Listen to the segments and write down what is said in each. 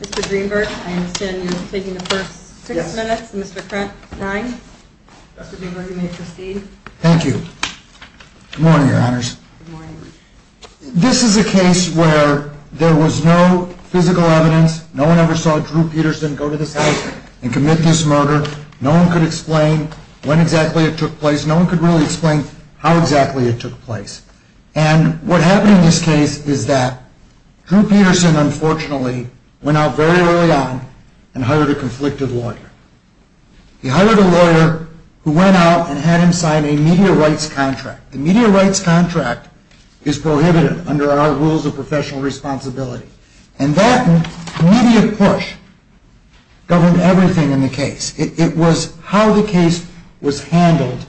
Mr. Greenberg, I understand you will be taking the first six minutes. Mr. Krent, nine. Thank you. Good morning, Your Honors. This is a case where there was no physical evidence. No one ever saw Drew Peterson go to the site and commit this murder. No one could explain when exactly it took place. No one could really explain how exactly it took place. And what happened in this case is that Drew Peterson, unfortunately, went out very early on and hired a conflicted lawyer. He hired a lawyer who went out and had him sign a media rights contract. The media rights contract is prohibited under our rules of professional responsibility. And that immediate push governed everything in the case. It was how the case was handled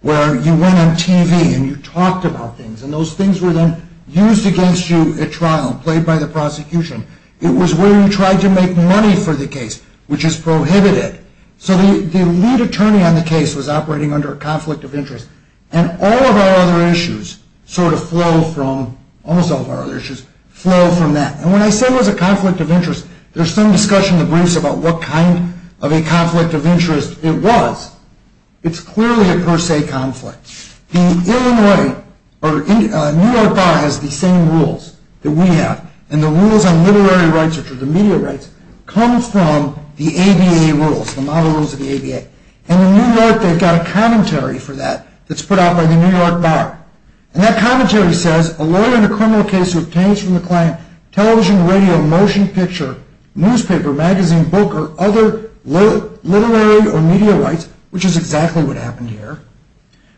where you went on TV and you talked about things. And those things were then used against you at trial, played by the prosecution. It was where you tried to make money for the case, which is prohibited. So the lead attorney on the case was operating under a conflict of interest. And all of our other issues sort of flow from, almost all of our other issues, flow from that. And when I say it was a conflict of interest, there's some discussion in the briefs about what kind of a conflict of interest it was. It's clearly a per se conflict. The Illinois or New York Bar has the same rules that we have. And the rules on literary rights, which are the media rights, come from the ABA rules, the model rules of the ABA. And in New York, they've got a commentary for that that's put out by the New York Bar. And that commentary says, a lawyer in a criminal case who obtains from the client television, radio, motion picture, newspaper, magazine, book, or other literary or media rights, which is exactly what happened here,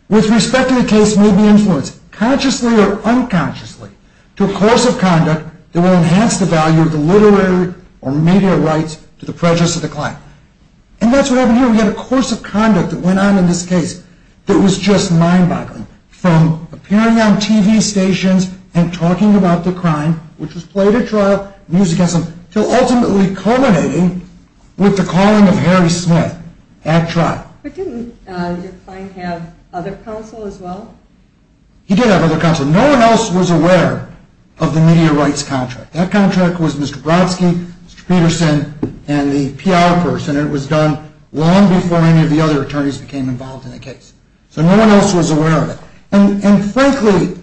with respect to the case may be influenced, consciously or unconsciously, to a course of conduct that will enhance the value of the literary or media rights to the prejudice of the client. And that's what happened here. We had a course of conduct that went on in this case that was just mind-boggling, from appearing on TV stations and talking about the crime, which was played at trial and used against them, to ultimately culminating with the calling of Harry Smith at trial. But didn't your client have other counsel as well? He did have other counsel. No one else was aware of the media rights contract. That contract was Mr. Brodsky, Mr. Peterson, and the PR person. It was done long before any of the other attorneys became involved in the case. So no one else was aware of it. And frankly,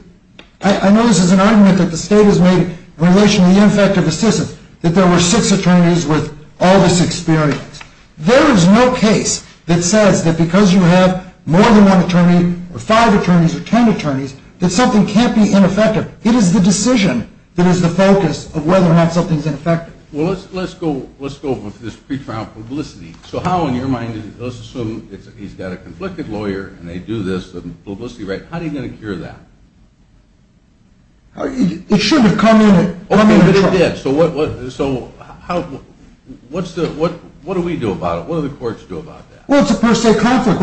I know this is an argument that the state has made in relation to the ineffective assistance, that there were six attorneys with all this experience. There is no case that says that because you have more than one attorney or five attorneys or ten attorneys, that something can't be ineffective. It is the decision that is the focus of whether or not something is ineffective. Well, let's go with this pre-trial publicity. So how, in your mind, let's assume he's got a conflicted lawyer, and they do this publicity right. How are you going to cure that? It should have come in at trial. Okay, but it did. So what do we do about it? What do the courts do about that? Well, it's a per se conflict.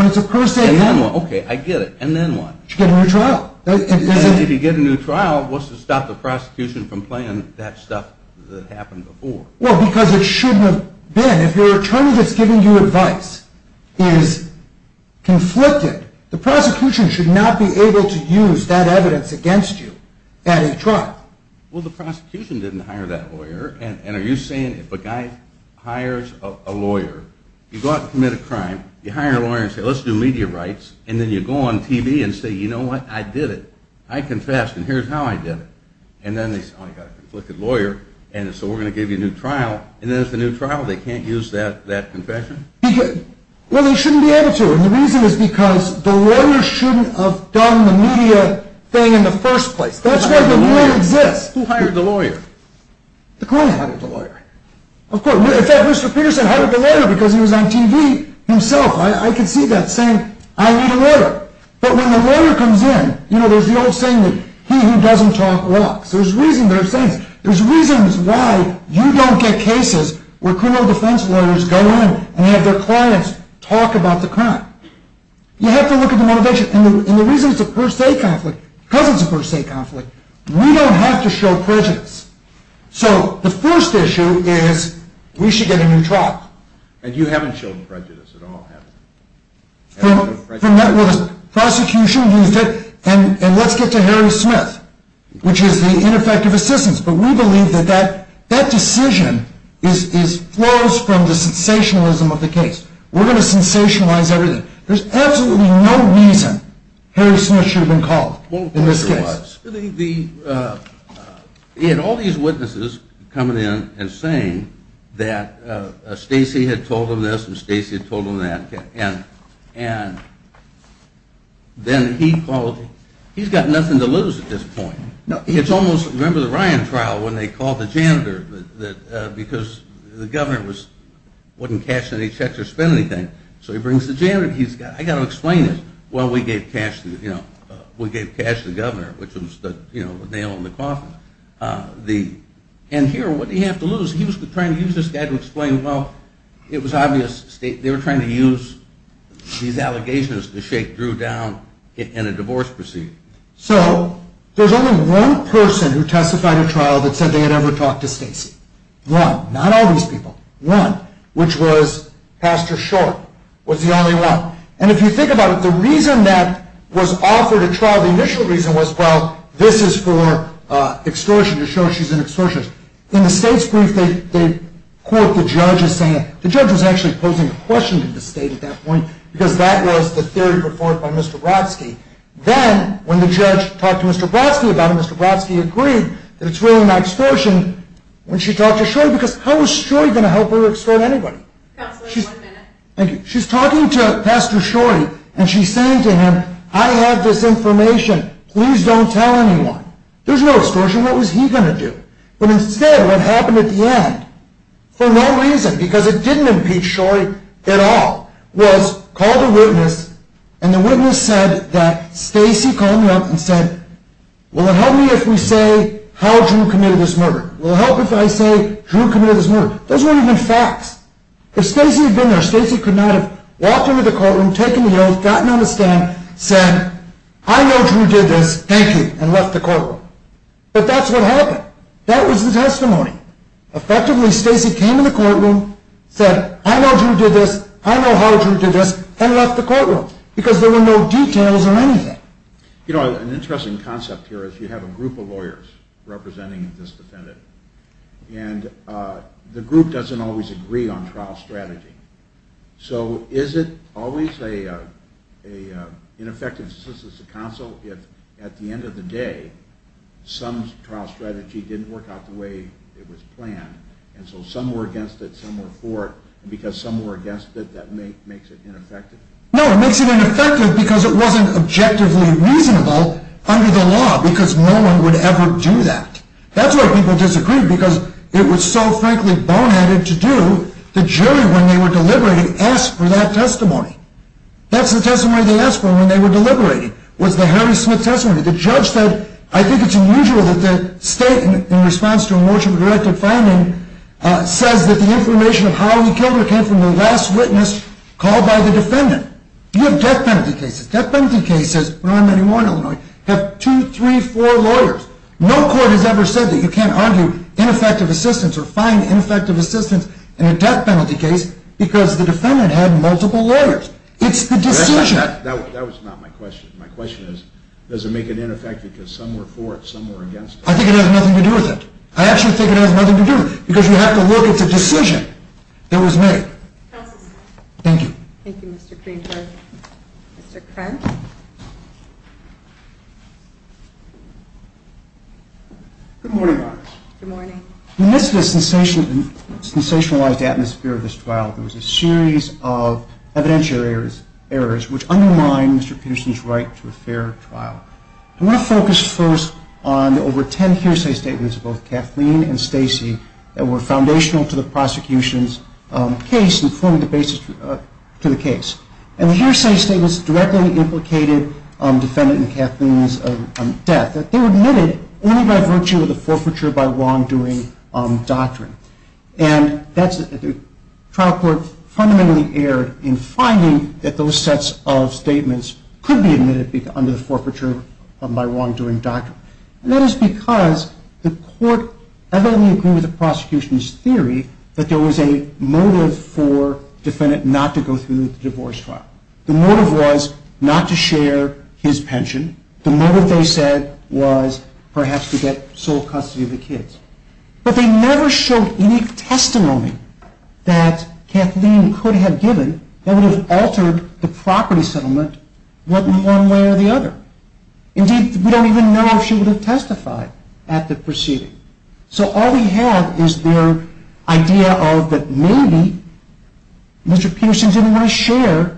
Okay, I get it. And then what? You get a new trial. If you get a new trial, what's to stop the prosecution from playing that stuff that happened before? Well, because it shouldn't have been. And if your attorney that's giving you advice is conflicted, the prosecution should not be able to use that evidence against you at a trial. Well, the prosecution didn't hire that lawyer, and are you saying if a guy hires a lawyer, you go out and commit a crime, you hire a lawyer and say, let's do media rights, and then you go on TV and say, you know what? I did it. I confessed, and here's how I did it. And then they say, oh, you've got a conflicted lawyer, and so we're going to give you a new trial, and then it's a new trial. They can't use that confession? Well, they shouldn't be able to, and the reason is because the lawyer shouldn't have done the media thing in the first place. That's why the lawyer exists. Who hired the lawyer? The client. Who hired the lawyer? Of course. In fact, Mr. Peterson hired the lawyer because he was on TV himself. I can see that saying, I need a lawyer. But when the lawyer comes in, you know, there's the old saying that he who doesn't talk walks. There's reason they're saying it. There's reasons why you don't get cases where criminal defense lawyers go in and have their clients talk about the crime. You have to look at the motivation, and the reason it's a per se conflict, because it's a per se conflict, we don't have to show prejudice. So the first issue is we should get a new trial. And you haven't shown prejudice at all, have you? Prosecution used it, and let's get to Harry Smith, which is the ineffective assistance. But we believe that that decision flows from the sensationalism of the case. We're going to sensationalize everything. There's absolutely no reason Harry Smith should have been called in this case. He had all these witnesses coming in and saying that Stacey had told him this, and Stacey had told him that, and then he called. He's got nothing to lose at this point. It's almost, remember the Ryan trial when they called the janitor because the governor wouldn't cash any checks or spend anything, so he brings the janitor. I've got to explain this. Well, we gave cash to the governor, which was the nail in the coffin. And here, what did he have to lose? He was trying to use this guy to explain, well, it was obvious, they were trying to use these allegations to shake Drew down in a divorce proceeding. So there's only one person who testified in a trial that said they had ever talked to Stacey. One. Not all these people. One. Which was Pastor Short was the only one. And if you think about it, the reason that was offered at trial, the initial reason was, well, this is for extortion, to show she's an extortionist. In the state's brief, they quote the judge as saying, the judge was actually posing a question to the state at that point because that was the theory put forth by Mr. Brodsky. Then when the judge talked to Mr. Brodsky about it, Mr. Brodsky agreed that it's really not extortion when she talked to Short because how was Short going to help her extort anybody? Counsel, you have one minute. She's talking to Pastor Short and she's saying to him, I have this information, please don't tell anyone. There's no extortion, what was he going to do? But instead, what happened at the end, for no reason, because it didn't impeach Short at all, was called a witness and the witness said that Stacey called him up and said, will it help me if we say how Drew committed this murder? Will it help if I say Drew committed this murder? Those weren't even facts. If Stacey had been there, Stacey could not have walked into the courtroom, taken the oath, gotten on the stand, said, I know Drew did this, thank you, and left the courtroom. But that's what happened. That was the testimony. Effectively, Stacey came in the courtroom, said, I know Drew did this, I know how Drew did this, and left the courtroom because there were no details or anything. You know, an interesting concept here is you have a group of lawyers representing this defendant and the group doesn't always agree on trial strategy. So is it always an ineffective assistance to counsel if, at the end of the day, some trial strategy didn't work out the way it was planned, and so some were against it, some were for it, and because some were against it, that makes it ineffective? No, it makes it ineffective because it wasn't objectively reasonable under the law because no one would ever do that. That's why people disagreed because it was so, frankly, boneheaded to do. The jury, when they were deliberating, asked for that testimony. That's the testimony they asked for when they were deliberating was the Harry Smith testimony. The judge said, I think it's unusual that the state, in response to a motion for directive finding, says that the information of how he killed her came from the last witness called by the defendant. You have death penalty cases. Death penalty cases, there aren't many more in Illinois. You have two, three, four lawyers. No court has ever said that you can't argue ineffective assistance or find ineffective assistance in a death penalty case because the defendant had multiple lawyers. It's the decision. That was not my question. My question is, does it make it ineffective because some were for it, some were against it? I think it has nothing to do with it. I actually think it has nothing to do with it because you have to look at the decision that was made. Counsel's time. Thank you. Thank you, Mr. Kringer. Mr. Krent. Good morning. Good morning. In the midst of the sensationalized atmosphere of this trial, there was a series of evidentiary errors which undermined Mr. Peterson's right to a fair trial. I want to focus first on the over ten hearsay statements of both Kathleen and Stacey that were foundational to the prosecution's case and formed the basis to the case. And the hearsay statements directly implicated the defendant and Kathleen's death. They were admitted only by virtue of the forfeiture by wrongdoing doctrine. And the trial court fundamentally erred in finding that those sets of statements could be admitted under the forfeiture by wrongdoing doctrine. And that is because the court evidently agreed with the prosecution's theory that there was a motive for the defendant not to go through with the divorce trial. The motive was not to share his pension. The motive, they said, was perhaps to get sole custody of the kids. But they never showed any testimony that Kathleen could have given that would have altered the property settlement one way or the other. Indeed, we don't even know if she would have testified at the proceeding. So all we have is their idea of that maybe Mr. Peterson didn't want to share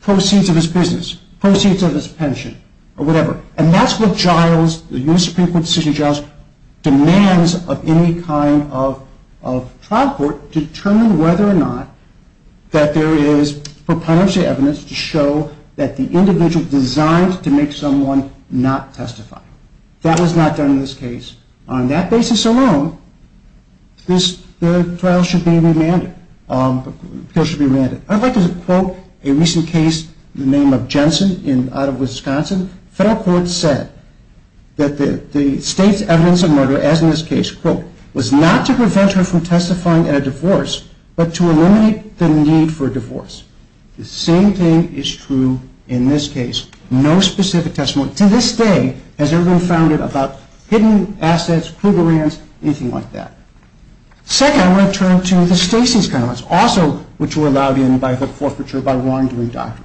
proceeds of his business, proceeds of his pension, or whatever. And that's what Giles, the U.S. Supreme Court decision Giles, demands of any kind of trial court to determine whether or not that there is proprietary evidence to show that the individual designed to make someone not testify. That was not done in this case. On that basis alone, the trial should be remanded. I'd like to quote a recent case in the name of Jensen out of Wisconsin. Federal courts said that the state's evidence of murder, as in this case, was not to prevent her from testifying at a divorce, but to eliminate the need for a divorce. The same thing is true in this case. No specific testimony to this day has ever been founded about hidden assets, clue grants, anything like that. Second, I want to turn to the Stacey's comments, also which were allowed in by the forfeiture by Warren doing doctor.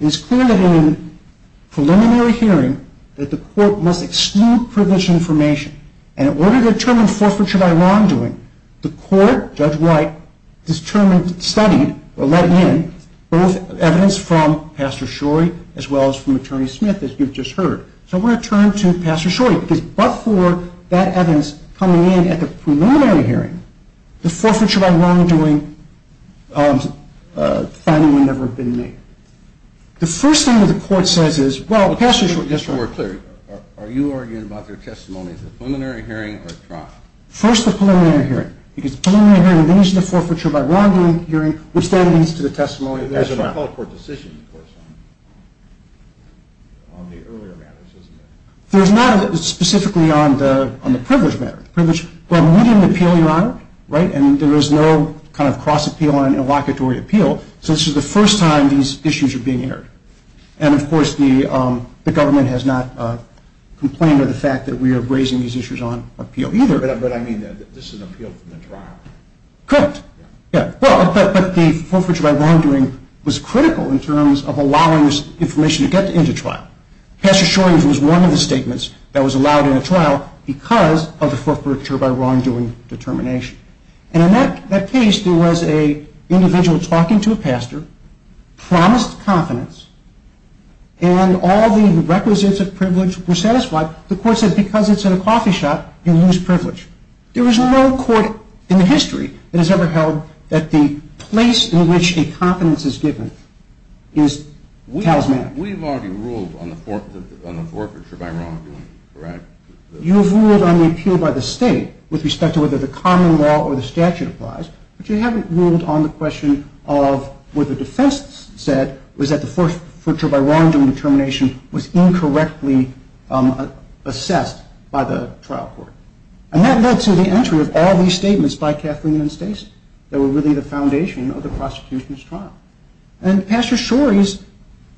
It is clear that in a preliminary hearing that the court must exclude privileged information. And in order to determine forfeiture by wrongdoing, the court, Judge White, determined, studied, or let in, both evidence from Pastor Shorey as well as from Attorney Smith, as you've just heard. So I want to turn to Pastor Shorey, because but for that evidence coming in at the preliminary hearing, the forfeiture by wrongdoing finding would never have been made. The first thing that the court says is, well, Pastor Shorey, just so we're clear, are you arguing about their testimony at the preliminary hearing or trial? First, the preliminary hearing, because preliminary hearing leads to the forfeiture by wrongdoing hearing, which then leads to the testimony at trial. There's an appellate court decision, of course, on the earlier matters, isn't there? There's not specifically on the privileged matter. We didn't appeal, Your Honor, right? And there is no kind of cross-appeal on an inlocutory appeal. So this is the first time these issues are being aired. And, of course, the government has not complained of the fact that we are raising these issues on appeal either. But I mean, this is an appeal from the trial. Correct. But the forfeiture by wrongdoing was critical in terms of allowing this information to get into trial. Pastor Shorey was one of the statements that was allowed in a trial because of the forfeiture by wrongdoing determination. And in that case, there was an individual talking to a pastor, promised confidence, and all the requisites of privilege were satisfied. The court said, because it's in a coffee shop, you lose privilege. There is no court in history that has ever held that the place in which a confidence is given tells matters. We've already ruled on the forfeiture by wrongdoing, correct? You've ruled on the appeal by the state with respect to whether the common law or the statute applies, but you haven't ruled on the question of what the defense said was that the forfeiture by wrongdoing determination was incorrectly assessed by the trial court. And that led to the entry of all these statements by Kathleen and Stacey that were really the foundation of the prosecution's trial. And Pastor Shorey's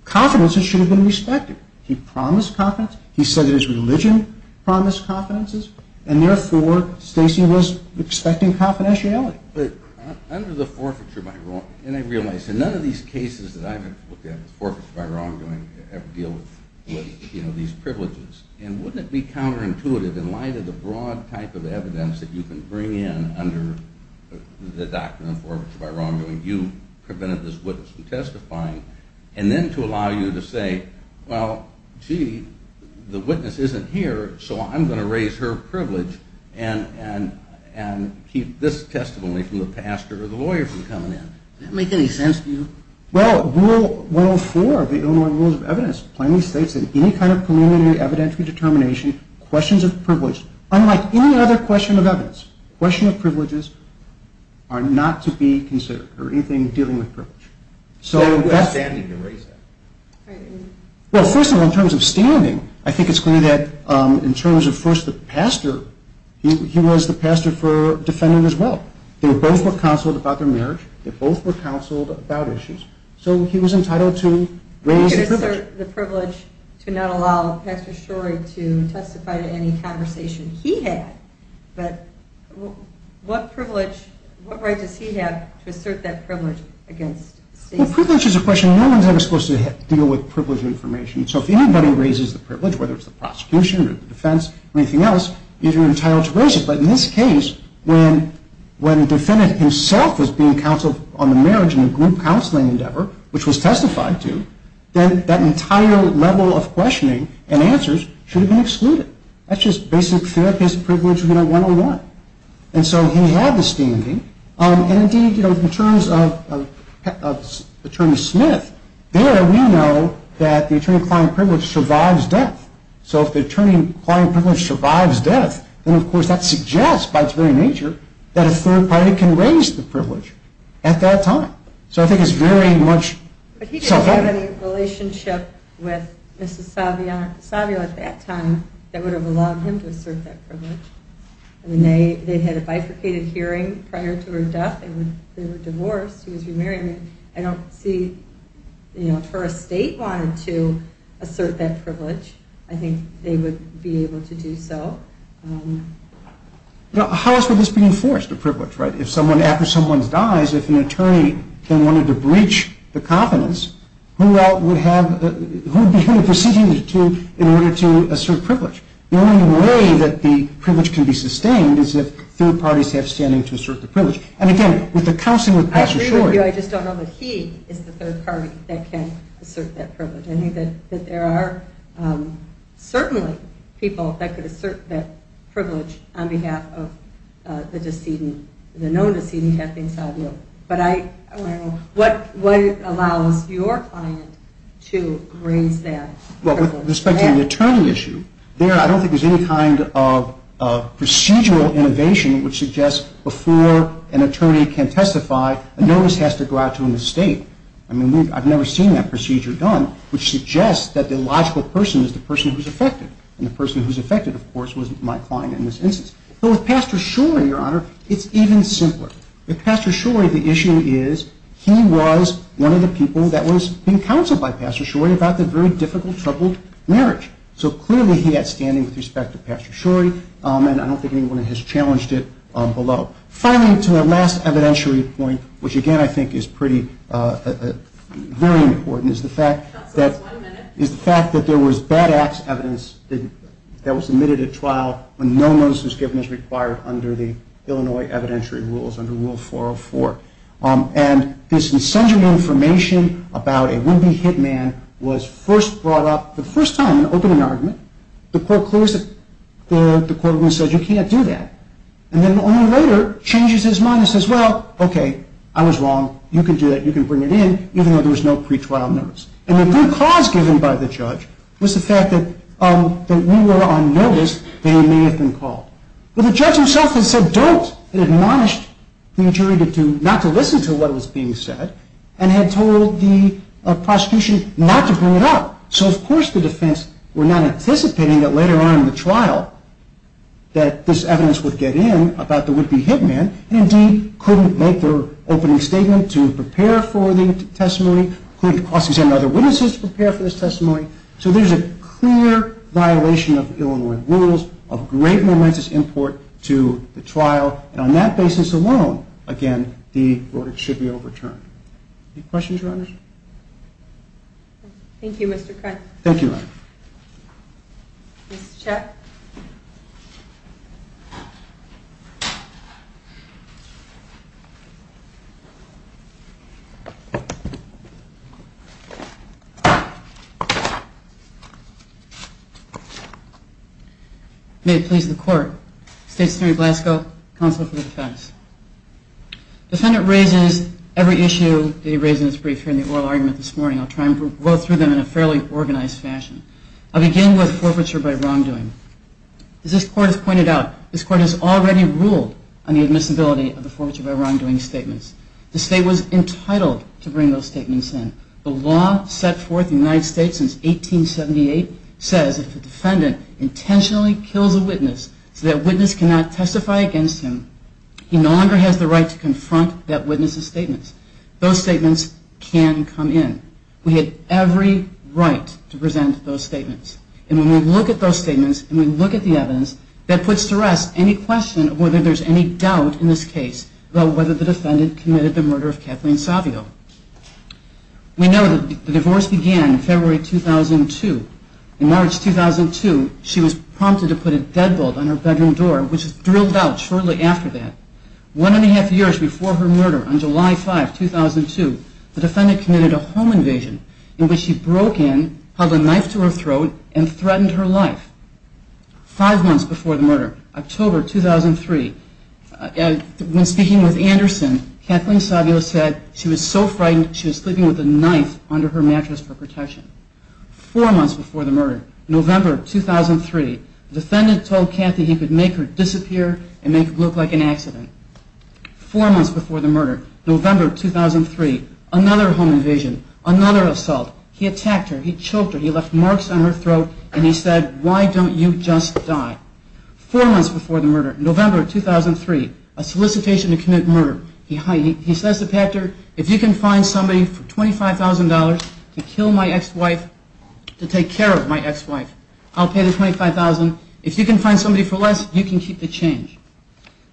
confidence should have been respected. He promised confidence. He said that his religion promised confidences. And therefore, Stacey was expecting confidentiality. But under the forfeiture by wrongdoing, and I realize that none of these cases that I've looked at with forfeiture by wrongdoing ever deal with these privileges. And wouldn't it be counterintuitive in light of the broad type of evidence that you can bring in under the doctrine of forfeiture by wrongdoing, you prevented this witness from testifying, and then to allow you to say, well, gee, the witness isn't here, so I'm going to raise her privilege and keep this testimony from the pastor or the lawyer from coming in. Does that make any sense to you? Well, Rule 104 of the Illinois Rules of Evidence plainly states that any kind of preliminary evidentiary determination, questions of privilege, unlike any other question of evidence, questions of privileges are not to be considered or anything dealing with privilege. Now who has standing to raise that? Well, first of all, in terms of standing, I think it's clear that in terms of first the pastor, he was the pastor for defendant as well. They both were counseled about their marriage. They both were counseled about issues. So he was entitled to raise the privilege. He could assert the privilege to not allow Pastor Shorey to testify to any conversation he had. But what privilege, what right does he have to assert that privilege against Stacy? Well, privilege is a question. No one is ever supposed to deal with privilege information. So if anybody raises the privilege, whether it's the prosecution or the defense or anything else, you're entitled to raise it. But in this case, when the defendant himself was being counseled on the marriage and the group counseling endeavor, which was testified to, then that entire level of questioning and answers should have been excluded. That's just basic therapist privilege 101. And so he had the standing. And, indeed, in terms of Attorney Smith, there we know that the attorney applying privilege survives death. So if the attorney applying privilege survives death, then, of course, that suggests by its very nature that a third party can raise the privilege at that time. So I think it's very much self-evident. I don't have any relationship with Mrs. Savio at that time that would have allowed him to assert that privilege. I mean, they had a bifurcated hearing prior to her death. They were divorced. He was remarried. I don't see, you know, if her estate wanted to assert that privilege, I think they would be able to do so. How is this being enforced, the privilege, right? If someone, after someone dies, if an attorney then wanted to breach the confidence, who would be who to proceed to in order to assert privilege? The only way that the privilege can be sustained is if third parties have standing to assert the privilege. And, again, with the counseling with Pastor Shor. I agree with you. I just don't know that he is the third party that can assert that privilege. I think that there are certainly people that could assert that privilege on behalf of the decedent, the known decedent, Captain Savio. But I don't know what allows your client to raise that privilege. Well, with respect to the attorney issue, there I don't think there's any kind of procedural innovation which suggests before an attorney can testify, a notice has to go out to an estate. I mean, I've never seen that procedure done, which suggests that the logical person is the person who's affected. And the person who's affected, of course, was my client in this instance. But with Pastor Shor, Your Honor, it's even simpler. With Pastor Shor, the issue is he was one of the people that was being counseled by Pastor Shor about the very difficult, troubled marriage. So clearly he had standing with respect to Pastor Shor. And I don't think anyone has challenged it below. Finally, to our last evidentiary point, which again I think is pretty, very important, is the fact that there was bad ass evidence that was submitted at trial when no notice was given as required under the Illinois evidentiary rules, under Rule 404. And this incendiary information about a would-be hitman was first brought up, the first time, in an opening argument. The court clears it. The courtroom says, you can't do that. And then only later changes his mind and says, well, okay, I was wrong. You can do that. You can bring it in, even though there was no pretrial notice. And the good cause given by the judge was the fact that we were on notice. They may have been called. But the judge himself had said, don't, and admonished the jury not to listen to what was being said and had told the prosecution not to bring it up. So of course the defense were not anticipating that later on in the trial that this evidence would get in about the would-be hitman and indeed couldn't make their opening statement to prepare for the testimony, couldn't cross-examine other witnesses to prepare for this testimony. So there's a clear violation of Illinois rules of grave momentous import to the trial. And on that basis alone, again, the order should be overturned. Any questions, Your Honor? Thank you, Mr. Krantz. Thank you, Your Honor. Ms. Chet. May it please the Court. State's Attorney Blasco, Counsel for the Defense. Defendant raises every issue that he raises in his brief here in the oral argument this morning. I'll try and go through them in a fairly organized fashion. I'll begin with forfeiture by wrongdoing. As this Court has pointed out, this Court has already ruled on the admissibility of the forfeiture by wrongdoing statements. The State was entitled to bring those statements in. The law set forth in the United States since 1878 says if a defendant intentionally kills a witness so that witness cannot testify against him, he no longer has the right to confront that witness's statements. Those statements can come in. We have every right to present those statements. And when we look at those statements and we look at the evidence, that puts to rest any question of whether there's any doubt in this case about whether the defendant committed the murder of Kathleen Savio. We know that the divorce began in February 2002. In March 2002, she was prompted to put a deadbolt on her bedroom door, which was drilled out shortly after that. One and a half years before her murder, on July 5, 2002, the defendant committed a home invasion in which she broke in, held a knife to her throat, and threatened her life. Five months before the murder, October 2003, when speaking with Anderson, Kathleen Savio said she was so frightened she was sleeping with a knife under her mattress for protection. Four months before the murder, November 2003, the defendant told Kathy he could make her disappear and make it look like an accident. Four months before the murder, November 2003, another home invasion, another assault. He attacked her, he choked her, he left marks on her throat, and he said, why don't you just die? Four months before the murder, November 2003, a solicitation to commit murder. He says to Katherine, if you can find somebody for $25,000 to kill my ex-wife, to take care of my ex-wife, I'll pay the $25,000. If you can find somebody for less, you can keep the change.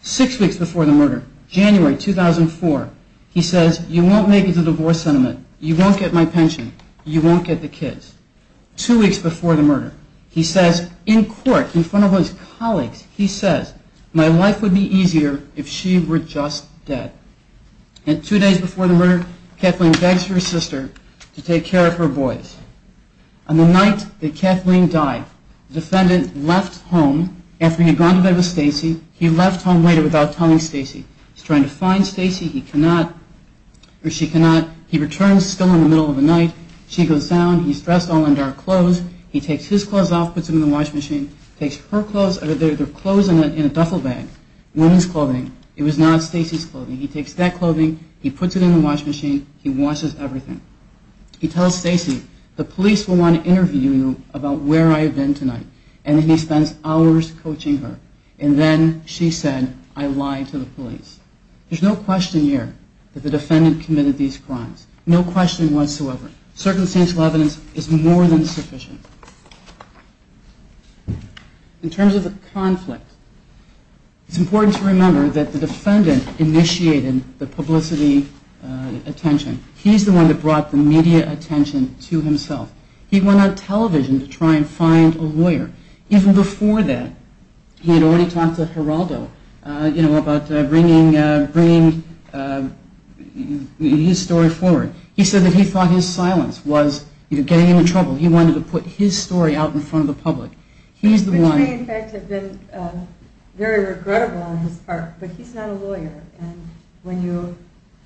Six weeks before the murder, January 2004, he says, you won't make it to divorce settlement, you won't get my pension, you won't get the kids. Two weeks before the murder, he says, in court, in front of his colleagues, he says, my life would be easier if she were just dead. And two days before the murder, Kathleen begs her sister to take care of her boys. On the night that Kathleen died, the defendant left home, after he had gone to bed with Stacy, he left home later without telling Stacy. He's trying to find Stacy, he cannot, or she cannot. He returns, still in the middle of the night, she goes down, he's dressed all in dark clothes, he takes his clothes off, puts them in the washing machine, takes her clothes, they're clothes in a duffel bag, women's clothing, it was not Stacy's clothing. He takes that clothing, he puts it in the washing machine, he washes everything. He tells Stacy, the police will want to interview you about where I have been tonight. And then he spends hours coaching her. And then she said, I lied to the police. There's no question here that the defendant committed these crimes. No question whatsoever. Circumstantial evidence is more than sufficient. In terms of the conflict, it's important to remember that the defendant initiated the publicity attention. He's the one that brought the media attention to himself. He went on television to try and find a lawyer. Even before that, he had already talked to Geraldo about bringing his story forward. He said that he thought his silence was getting him in trouble. He wanted to put his story out in front of the public. Which may in fact have been very regrettable on his part, but he's not a lawyer. When you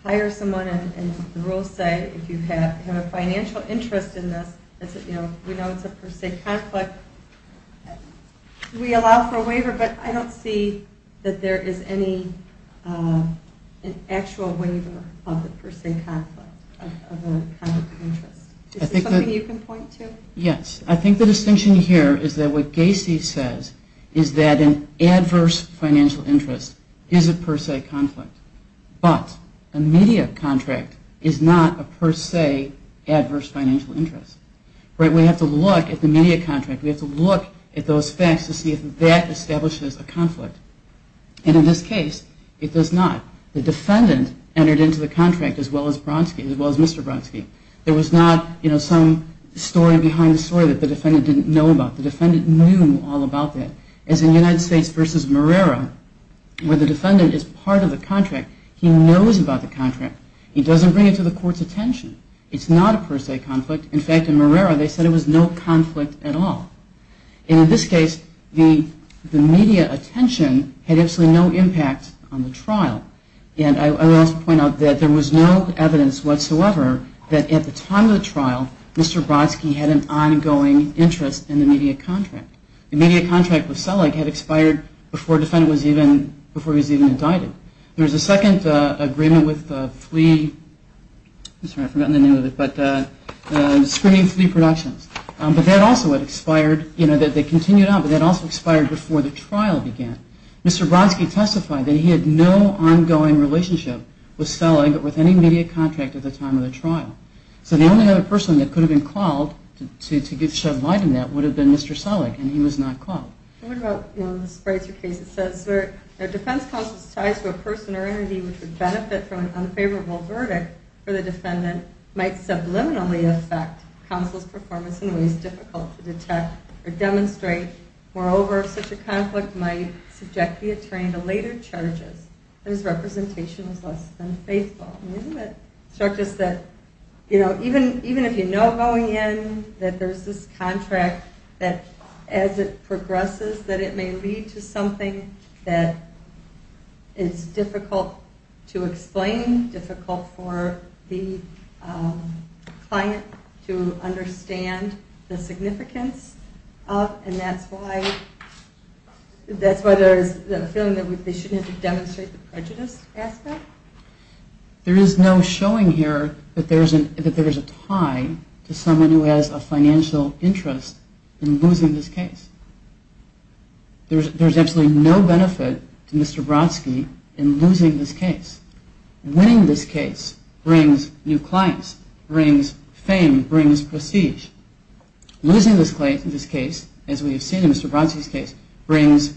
hire someone and the rules say if you have a financial interest in this, we know it's a per se conflict, we allow for a waiver, but I don't see that there is any actual waiver of the per se conflict of a conflict of interest. Is this something you can point to? Yes. I think the distinction here is that what Gacy says is that an adverse financial interest is a per se conflict, but a media contract is not a per se adverse financial interest. We have to look at the media contract. We have to look at those facts to see if that establishes a conflict. In this case, it does not. The defendant entered into the contract as well as Mr. Brodsky. There was not some story behind the story that the defendant didn't know about. The defendant knew all about that. As in United States v. Marrera, where the defendant is part of the contract, he knows about the contract. He doesn't bring it to the court's attention. It's not a per se conflict. In fact, in Marrera, they said it was no conflict at all. In this case, the media attention had absolutely no impact on the trial. And I will also point out that there was no evidence whatsoever that at the time of the trial, Mr. Brodsky had an ongoing interest in the media contract. The media contract with Selig had expired before the defendant was even indicted. There was a second agreement with Flea. I'm sorry, I've forgotten the name of it, but Screening Flea Productions. But that also had expired. They continued on, but that also expired before the trial began. Mr. Brodsky testified that he had no ongoing relationship with Selig or with any media contract at the time of the trial. So the only other person that could have been called to shed light on that would have been Mr. Selig, and he was not called. What about the Spreitzer case? It says, Defense counsel's ties to a person or entity which would benefit from an unfavorable verdict for the defendant might subliminally affect counsel's performance in ways difficult to detect or demonstrate. Moreover, such a conflict might subject the attorney to later charges whose representation was less than faithful. Even if you know going in that there's this contract, that as it progresses that it may lead to something that is difficult to explain, difficult for the client to understand the significance of, and that's why there's a feeling that they shouldn't have to demonstrate There is no showing here that there is a tie to someone who has a financial interest in losing this case. There is absolutely no benefit to Mr. Brodsky in losing this case. Winning this case brings new clients, brings fame, brings prestige. Losing this case, as we have seen in Mr. Brodsky's case, brings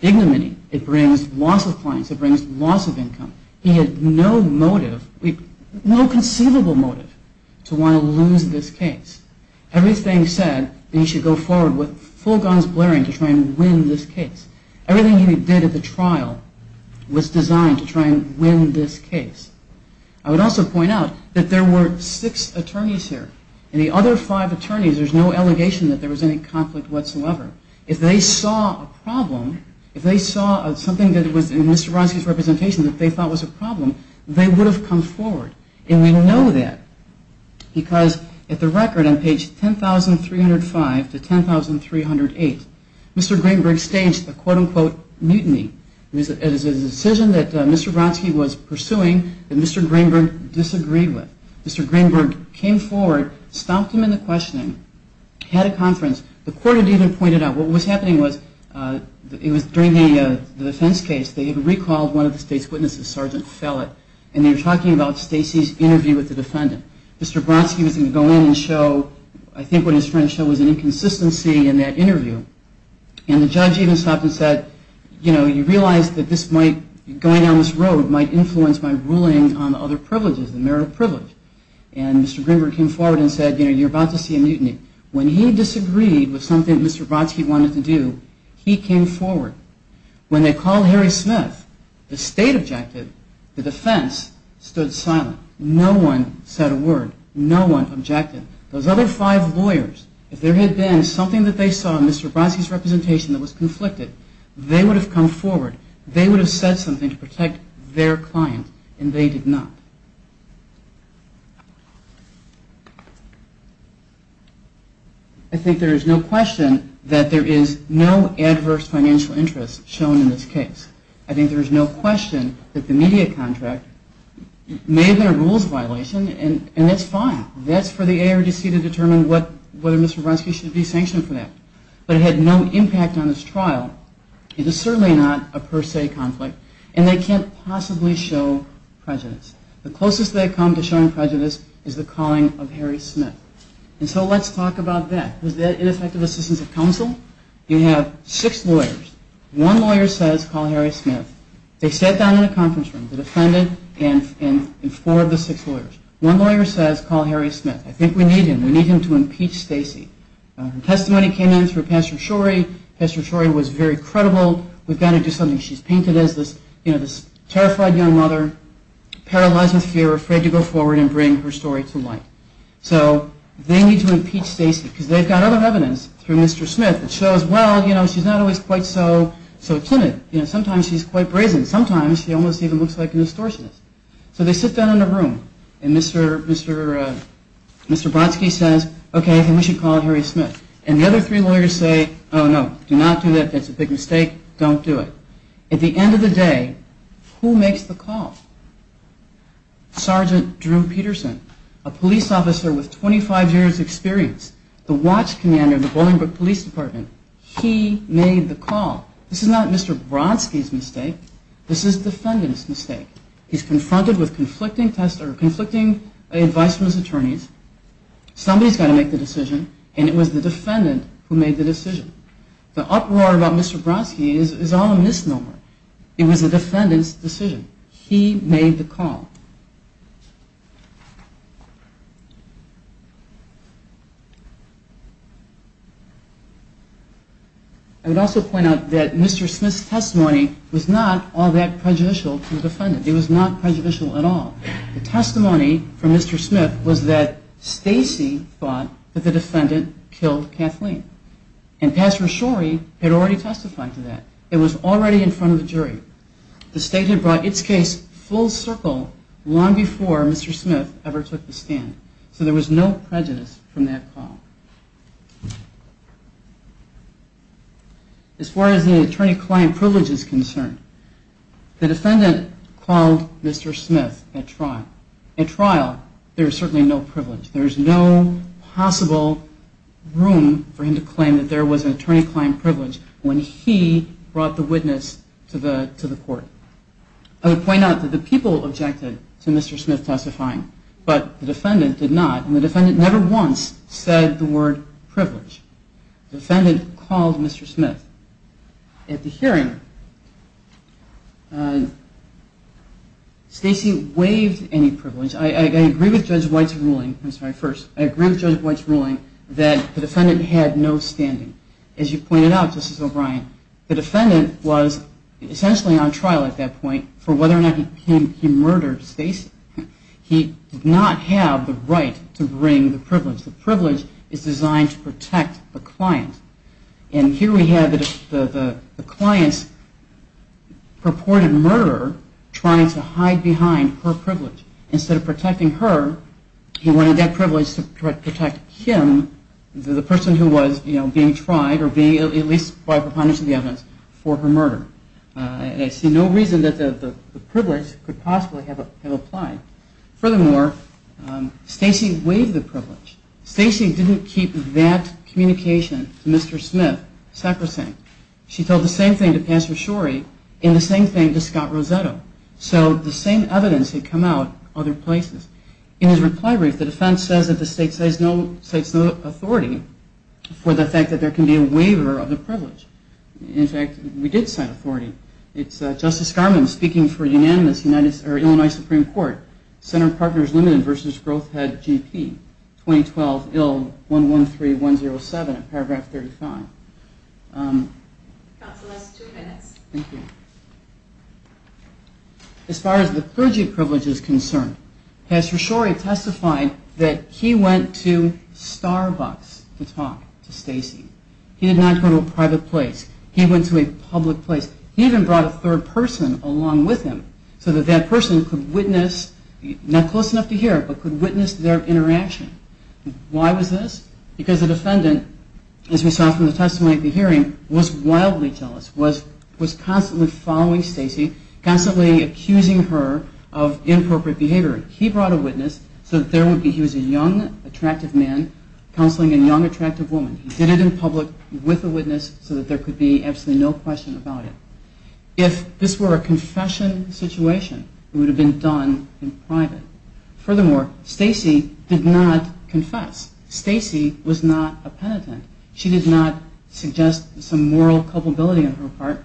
ignominy. It brings loss of clients. It brings loss of income. He had no motive, no conceivable motive to want to lose this case. Everything said that he should go forward with full guns blaring to try and win this case. Everything he did at the trial was designed to try and win this case. I would also point out that there were six attorneys here. In the other five attorneys, there's no allegation that there was any conflict whatsoever. If they saw a problem, if they saw something that was in Mr. Brodsky's representation that they thought was a problem, they would have come forward. And we know that because at the record on page 10,305 to 10,308, Mr. Greenberg staged a quote-unquote mutiny. It was a decision that Mr. Brodsky was pursuing that Mr. Greenberg disagreed with. Mr. Greenberg came forward, stopped him in the questioning, had a conference. The court had even pointed out, what was happening was, it was during the defense case, they had recalled one of the state's witnesses, Sergeant Fellett, and they were talking about Stacy's interview with the defendant. Mr. Brodsky was going to go in and show, I think what his friend showed was an inconsistency in that interview. And the judge even stopped and said, you know, you realize that this might, going down this road might influence my ruling on other privileges, the merit of privilege. And Mr. Greenberg came forward and said, you know, you're about to see a mutiny. When he disagreed with something Mr. Brodsky wanted to do, he came forward. When they called Harry Smith, the state objected. The defense stood silent. No one said a word. No one objected. Those other five lawyers, if there had been something that they saw in Mr. Brodsky's representation that was conflicted, they would have come forward. They would have said something to protect their client, and they did not. I think there is no question that there is no adverse financial interest shown in this case. I think there is no question that the media contract may have been a rules violation, and that's fine. That's for the ARDC to determine whether Mr. Brodsky should be sanctioned for that. But it had no impact on this trial. It is certainly not a per se conflict, and they can't possibly show prejudice. The closest they come to showing prejudice is the calling of Harry Smith. And so let's talk about that. Was that ineffective assistance of counsel? You have six lawyers. One lawyer says, call Harry Smith. They sat down in a conference room, the defendant and four of the six lawyers. One lawyer says, call Harry Smith. I think we need him. We need him to impeach Stacy. Her testimony came in through Pastor Shorey. Pastor Shorey was very credible. We've got to do something. She's painted as this terrified young mother, paralyzed with fear, afraid to go forward and bring her story to light. So they need to impeach Stacy because they've got other evidence through Mr. Smith that shows, well, you know, she's not always quite so timid. You know, sometimes she's quite brazen. Sometimes she almost even looks like a distortionist. So they sit down in a room, and Mr. Brodsky says, okay, then we should call Harry Smith. And the other three lawyers say, oh, no, do not do that. That's a big mistake. Don't do it. At the end of the day, who makes the call? Sergeant Drew Peterson, a police officer with 25 years' experience, the watch commander of the Bolingbroke Police Department. He made the call. This is not Mr. Brodsky's mistake. This is the defendant's mistake. He's confronted with conflicting advice from his attorneys. Somebody's got to make the decision, and it was the defendant who made the decision. The uproar about Mr. Brodsky is all a misnomer. It was the defendant's decision. He made the call. I would also point out that Mr. Smith's testimony was not all that prejudicial to the defendant. It was not prejudicial at all. The testimony from Mr. Smith was that Stacey thought that the defendant killed Kathleen. And Pastor Shorey had already testified to that. It was already in front of the jury. The state had brought its case full circle long before Mr. Smith ever took the stand. So there was no prejudice from that call. As far as the attorney-client privilege is concerned, the defendant called Mr. Smith at trial. At trial, there is certainly no privilege. There is no possible room for him to claim that there was an attorney-client privilege when he brought the witness to the court. I would point out that the people objected to Mr. Smith testifying, but the defendant did not. And the defendant never once said the word privilege. The defendant called Mr. Smith. At the hearing, Stacey waived any privilege. I agree with Judge White's ruling that the defendant had no standing. As you pointed out, Justice O'Brien, the defendant was essentially on trial at that point for whether or not he murdered Stacey. He did not have the right to bring the privilege. The privilege is designed to protect the client. And here we have the client's purported murder trying to hide behind her privilege. Instead of protecting her, he wanted that privilege to protect him, the person who was being tried or being at least by preponderance of the evidence, for her murder. I see no reason that the privilege could possibly have applied. Furthermore, Stacey waived the privilege. Stacey didn't keep that communication to Mr. Smith, Sacrosanct. She told the same thing to Pastor Shorey and the same thing to Scott Rosetto. So the same evidence had come out other places. In his reply brief, the defense says that the state cites no authority for the fact that there can be a waiver of the privilege. In fact, we did cite authority. It's Justice Scarman speaking for the unanimous Illinois Supreme Court, Center Partners Limited versus Growth Head GP, 2012, ill 113107, paragraph 35. Counsel, that's two minutes. Thank you. As far as the clergy privilege is concerned, Pastor Shorey testified that he went to Starbucks to talk to Stacey. He did not go to a private place. He went to a public place. He even brought a third person along with him so that that person could witness, not close enough to hear, but could witness their interaction. Why was this? Because the defendant, as we saw from the testimony at the hearing, was wildly jealous, was constantly following Stacey, constantly accusing her of inappropriate behavior. He brought a witness so that there would be, he was a young, attractive man counseling a young, attractive woman. He did it in public with a witness so that there could be absolutely no question about it. If this were a confession situation, it would have been done in private. Furthermore, Stacey did not confess. Stacey was not a penitent. She did not suggest some moral culpability on her part.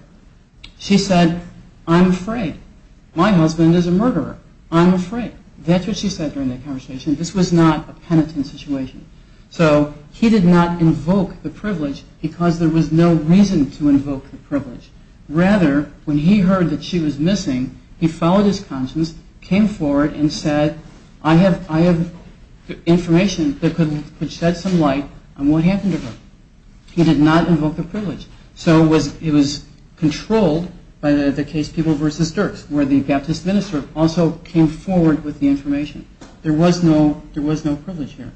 She said, I'm afraid. My husband is a murderer. I'm afraid. That's what she said during the conversation. This was not a penitent situation. So he did not invoke the privilege because there was no reason to invoke the privilege. Rather, when he heard that she was missing, he followed his conscience, came forward, and said, I have information that could shed some light on what happened to her. He did not invoke the privilege. So it was controlled by the case People v. Dirks, where the Baptist minister also came forward with the information. There was no privilege here.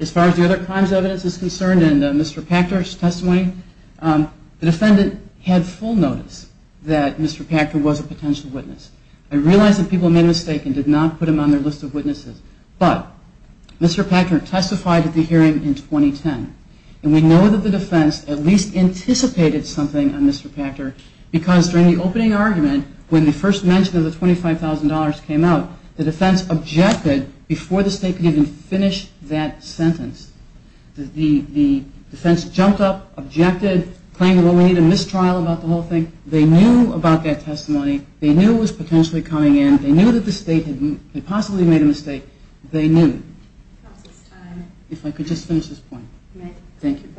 As far as the other crimes evidence is concerned, and Mr. Pachter's testimony, the defendant had full notice that Mr. Pachter was a potential witness. I realize that people made a mistake and did not put him on their list of witnesses. But Mr. Pachter testified at the hearing in 2010. And we know that the defense at least anticipated something on Mr. Pachter because during the opening argument, when the first mention of the $25,000 came out, the defense objected before the state could even finish that sentence. The defense jumped up, objected, claimed it only needed a mistrial about the whole thing. They knew about that testimony. They knew it was potentially coming in. They knew that the state had possibly made a mistake. They knew. If I could just finish this point. Thank you.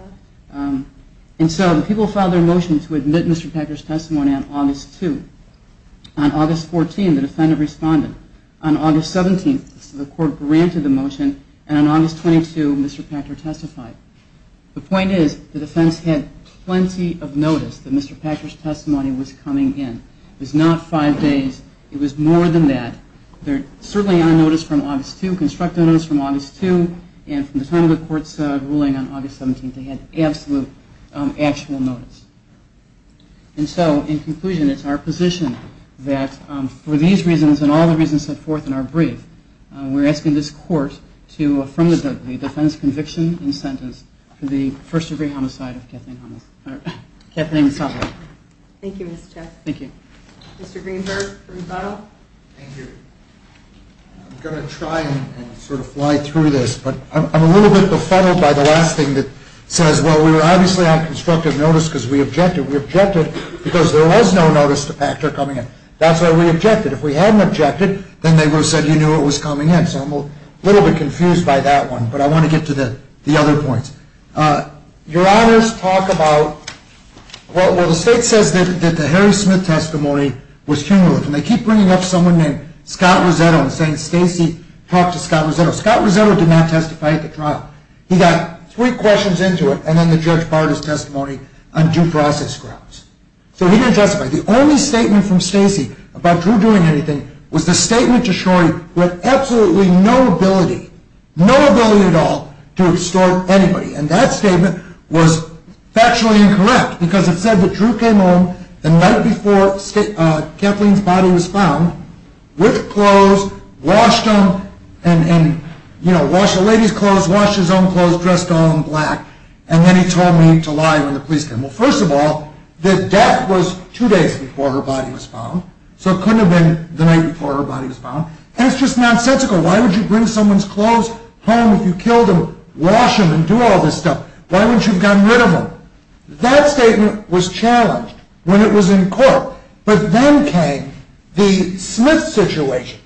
And so the people filed their motion to admit Mr. Pachter's testimony on August 2. On August 14, the defendant responded. On August 17, the court granted the motion. And on August 22, Mr. Pachter testified. The point is the defense had plenty of notice that Mr. Pachter's testimony was coming in. It was not five days. It was more than that. They're certainly on notice from August 2, constructive notice from August 2, and from the time the court started ruling on August 17, they had absolute actual notice. And so in conclusion, it's our position that for these reasons and all the reasons set forth in our brief, we're asking this court to affirm the defense conviction and sentence for the first-degree homicide of Kathleen Hamas. All right. Kathleen, we'll stop there. Thank you, Mr. Chairman. Thank you. Mr. Greenberg for rebuttal. Thank you. I'm going to try and sort of fly through this, but I'm a little bit befuddled by the last thing that says, well, we were obviously on constructive notice because we objected. We objected because there was no notice to Pachter coming in. That's why we objected. If we hadn't objected, then they would have said you knew it was coming in. So I'm a little bit confused by that one, but I want to get to the other points. Your Honors talk about, well, the state says that the Harry Smith testimony was cumulative, and they keep bringing up someone named Scott Rosetto and saying, Stacy, talk to Scott Rosetto. Scott Rosetto did not testify at the trial. He got three questions into it, and then the judge barred his testimony on due process grounds. So he didn't testify. The only statement from Stacy about Drew doing anything was the statement to Shorey with absolutely no ability, no ability at all to extort anybody, and that statement was factually incorrect because it said that Drew came home the night before Kathleen's body was found with clothes, washed them, and, you know, washed the lady's clothes, washed his own clothes, dressed all in black, and then he told me to lie when the police came. Well, first of all, the death was two days before her body was found, so it couldn't have been the night before her body was found, and it's just nonsensical. Why would you bring someone's clothes home if you killed them, wash them, and do all this stuff? Why wouldn't you have gotten rid of them? That statement was challenged when it was in court, but then came the Smith situation.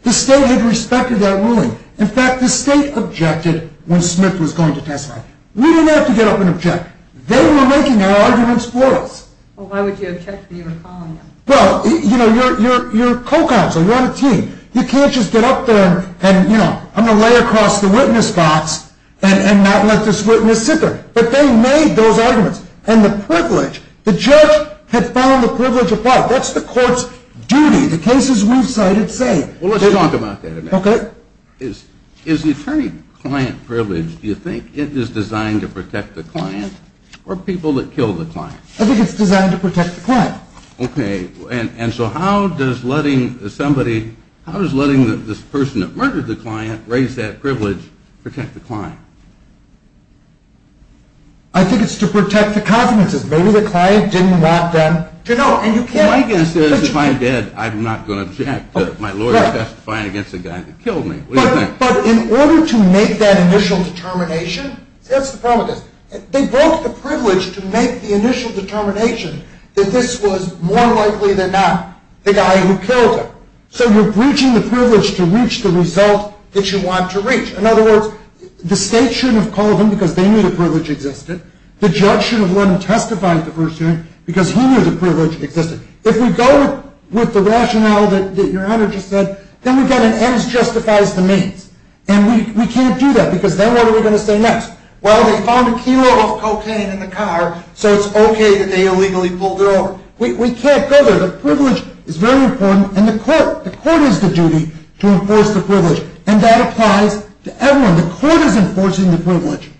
The state had respected that ruling. In fact, the state objected when Smith was going to testify. We didn't have to get up and object. They were making their arguments for us. Well, why would you object when you were calling them? Well, you know, you're a co-counsel. You're on a team. You can't just get up there and, you know, I'm going to lay across the witness box and not let this witness sit there, but they made those arguments, and the privilege, the judge had found the privilege of what? Well, let's talk about that a minute. Okay. Is the attorney-client privilege, do you think it is designed to protect the client or people that kill the client? I think it's designed to protect the client. Okay. And so how does letting somebody, how does letting this person that murdered the client raise that privilege protect the client? I think it's to protect the confidences. Maybe the client didn't want them to know, and you can't... Well, my guess is if I'm dead, I'm not going to object to my lawyer testifying against the guy that killed me. What do you think? But in order to make that initial determination, that's the problem with this. They broke the privilege to make the initial determination that this was more likely than not the guy who killed him. So you're breaching the privilege to reach the result that you want to reach. In other words, the state shouldn't have called him because they knew the privilege existed. The judge shouldn't have let him testify at the first hearing because he knew the privilege existed. If we go with the rationale that your honor just said, then we've got an ends justifies the means. And we can't do that because then what are we going to say next? Well, they found a kilo of cocaine in the car, so it's okay that they illegally pulled it over. We can't go there. The privilege is very important, and the court is the duty to enforce the privilege. And that applies to everyone. The court is enforcing the privilege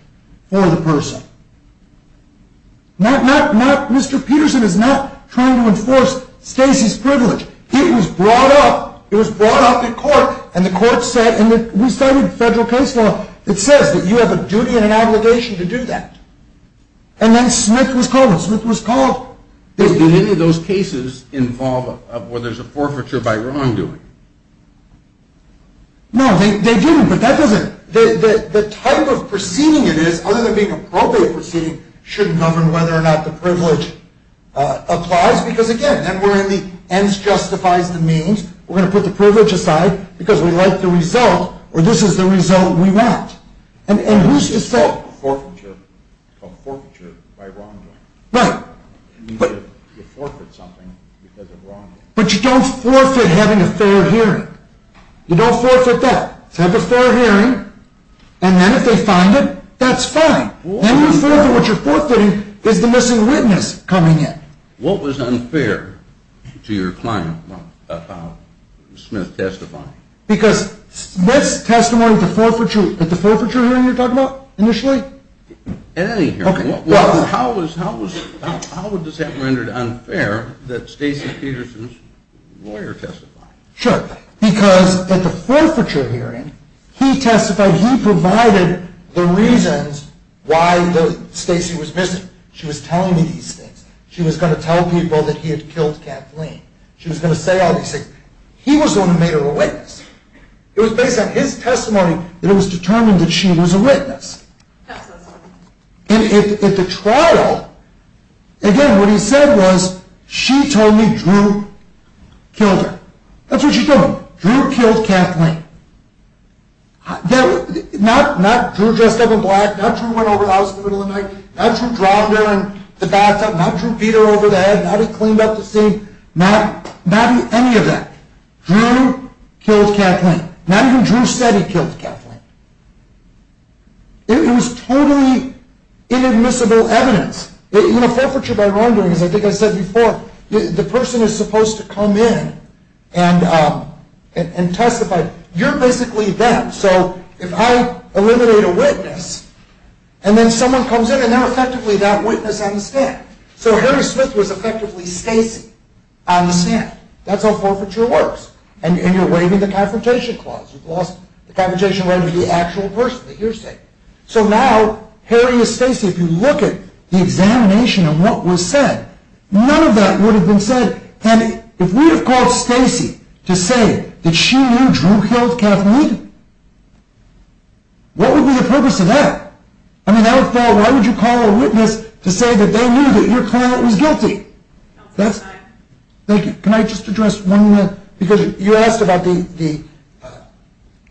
for the person. Mr. Peterson is not trying to enforce Stacy's privilege. It was brought up. It was brought up in court, and the court said, and we studied federal case law, it says that you have a duty and an obligation to do that. And then Smith was called, and Smith was called. Did any of those cases involve where there's a forfeiture by wrongdoing? No, they didn't, but that doesn't... The type of proceeding it is, other than being appropriate proceeding, should govern whether or not the privilege applies, because, again, then we're in the ends justifies the means. We're going to put the privilege aside because we like the result, or this is the result we want. And who's to say... Forfeiture by wrongdoing. Right. You forfeit something because of wrongdoing. But you don't forfeit having a fair hearing. You don't forfeit that. Have a fair hearing, and then if they find it, that's fine. Then you forfeit what you're forfeiting is the missing witness coming in. What was unfair to your client about Smith testifying? Because Smith's testimony at the forfeiture hearing you're talking about, initially? At any hearing. How is that rendered unfair that Stacy Peterson's lawyer testified? Sure. Because at the forfeiture hearing, he testified, he provided the reasons why Stacy was missing. She was telling me these things. She was going to tell people that he had killed Kathleen. She was going to say all these things. He was the one who made her a witness. It was based on his testimony that it was determined that she was a witness. And at the trial, again, what he said was, she told me Drew killed her. That's what she told me. Drew killed Kathleen. Not Drew dressed up in black. Not Drew went over the house in the middle of the night. Not Drew dropped her in the bathtub. Not Drew beat her over the head. Not he cleaned up the scene. Not any of that. Drew killed Kathleen. Not even Drew said he killed Kathleen. It was totally inadmissible evidence. Forfeiture by wrongdoing, as I think I said before, the person is supposed to come in and testify. You're basically them. So if I eliminate a witness, and then someone comes in, and they're effectively that witness on the stand. So Harry Smith was effectively Stacy on the stand. That's how forfeiture works. And you're waiving the confrontation clause. You've lost the confrontation right to the actual person, the hearsay. So now, Harry is Stacy. If you look at the examination of what was said, none of that would have been said. And if we had called Stacy to say that she knew Drew killed Kathleen, what would be the purpose of that? I mean, I would have thought, why would you call a witness to say that they knew that your client was guilty? Can I just address one more? Because you asked about the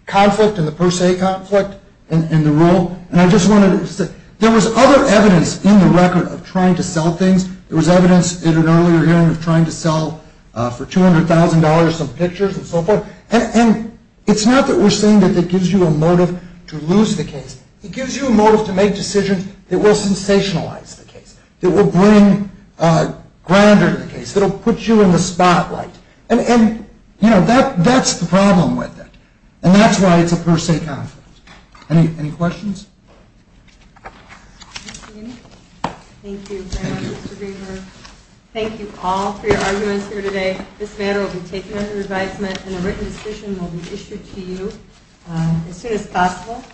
conflict and the per se conflict and the rule, and I just wanted to say, there was other evidence in the record of trying to sell things. There was evidence in an earlier hearing of trying to sell for $200,000 some pictures and so forth. And it's not that we're saying that it gives you a motive to lose the case. It gives you a motive to make decisions that will sensationalize the case, that will bring grandeur to the case, that will put you in the spotlight. And, you know, that's the problem with it. And that's why it's a per se conflict. Any questions? Thank you very much, Mr. Greenberg. Thank you all for your arguments here today. This matter will be taken under advisement and a written decision will be issued to you as soon as possible.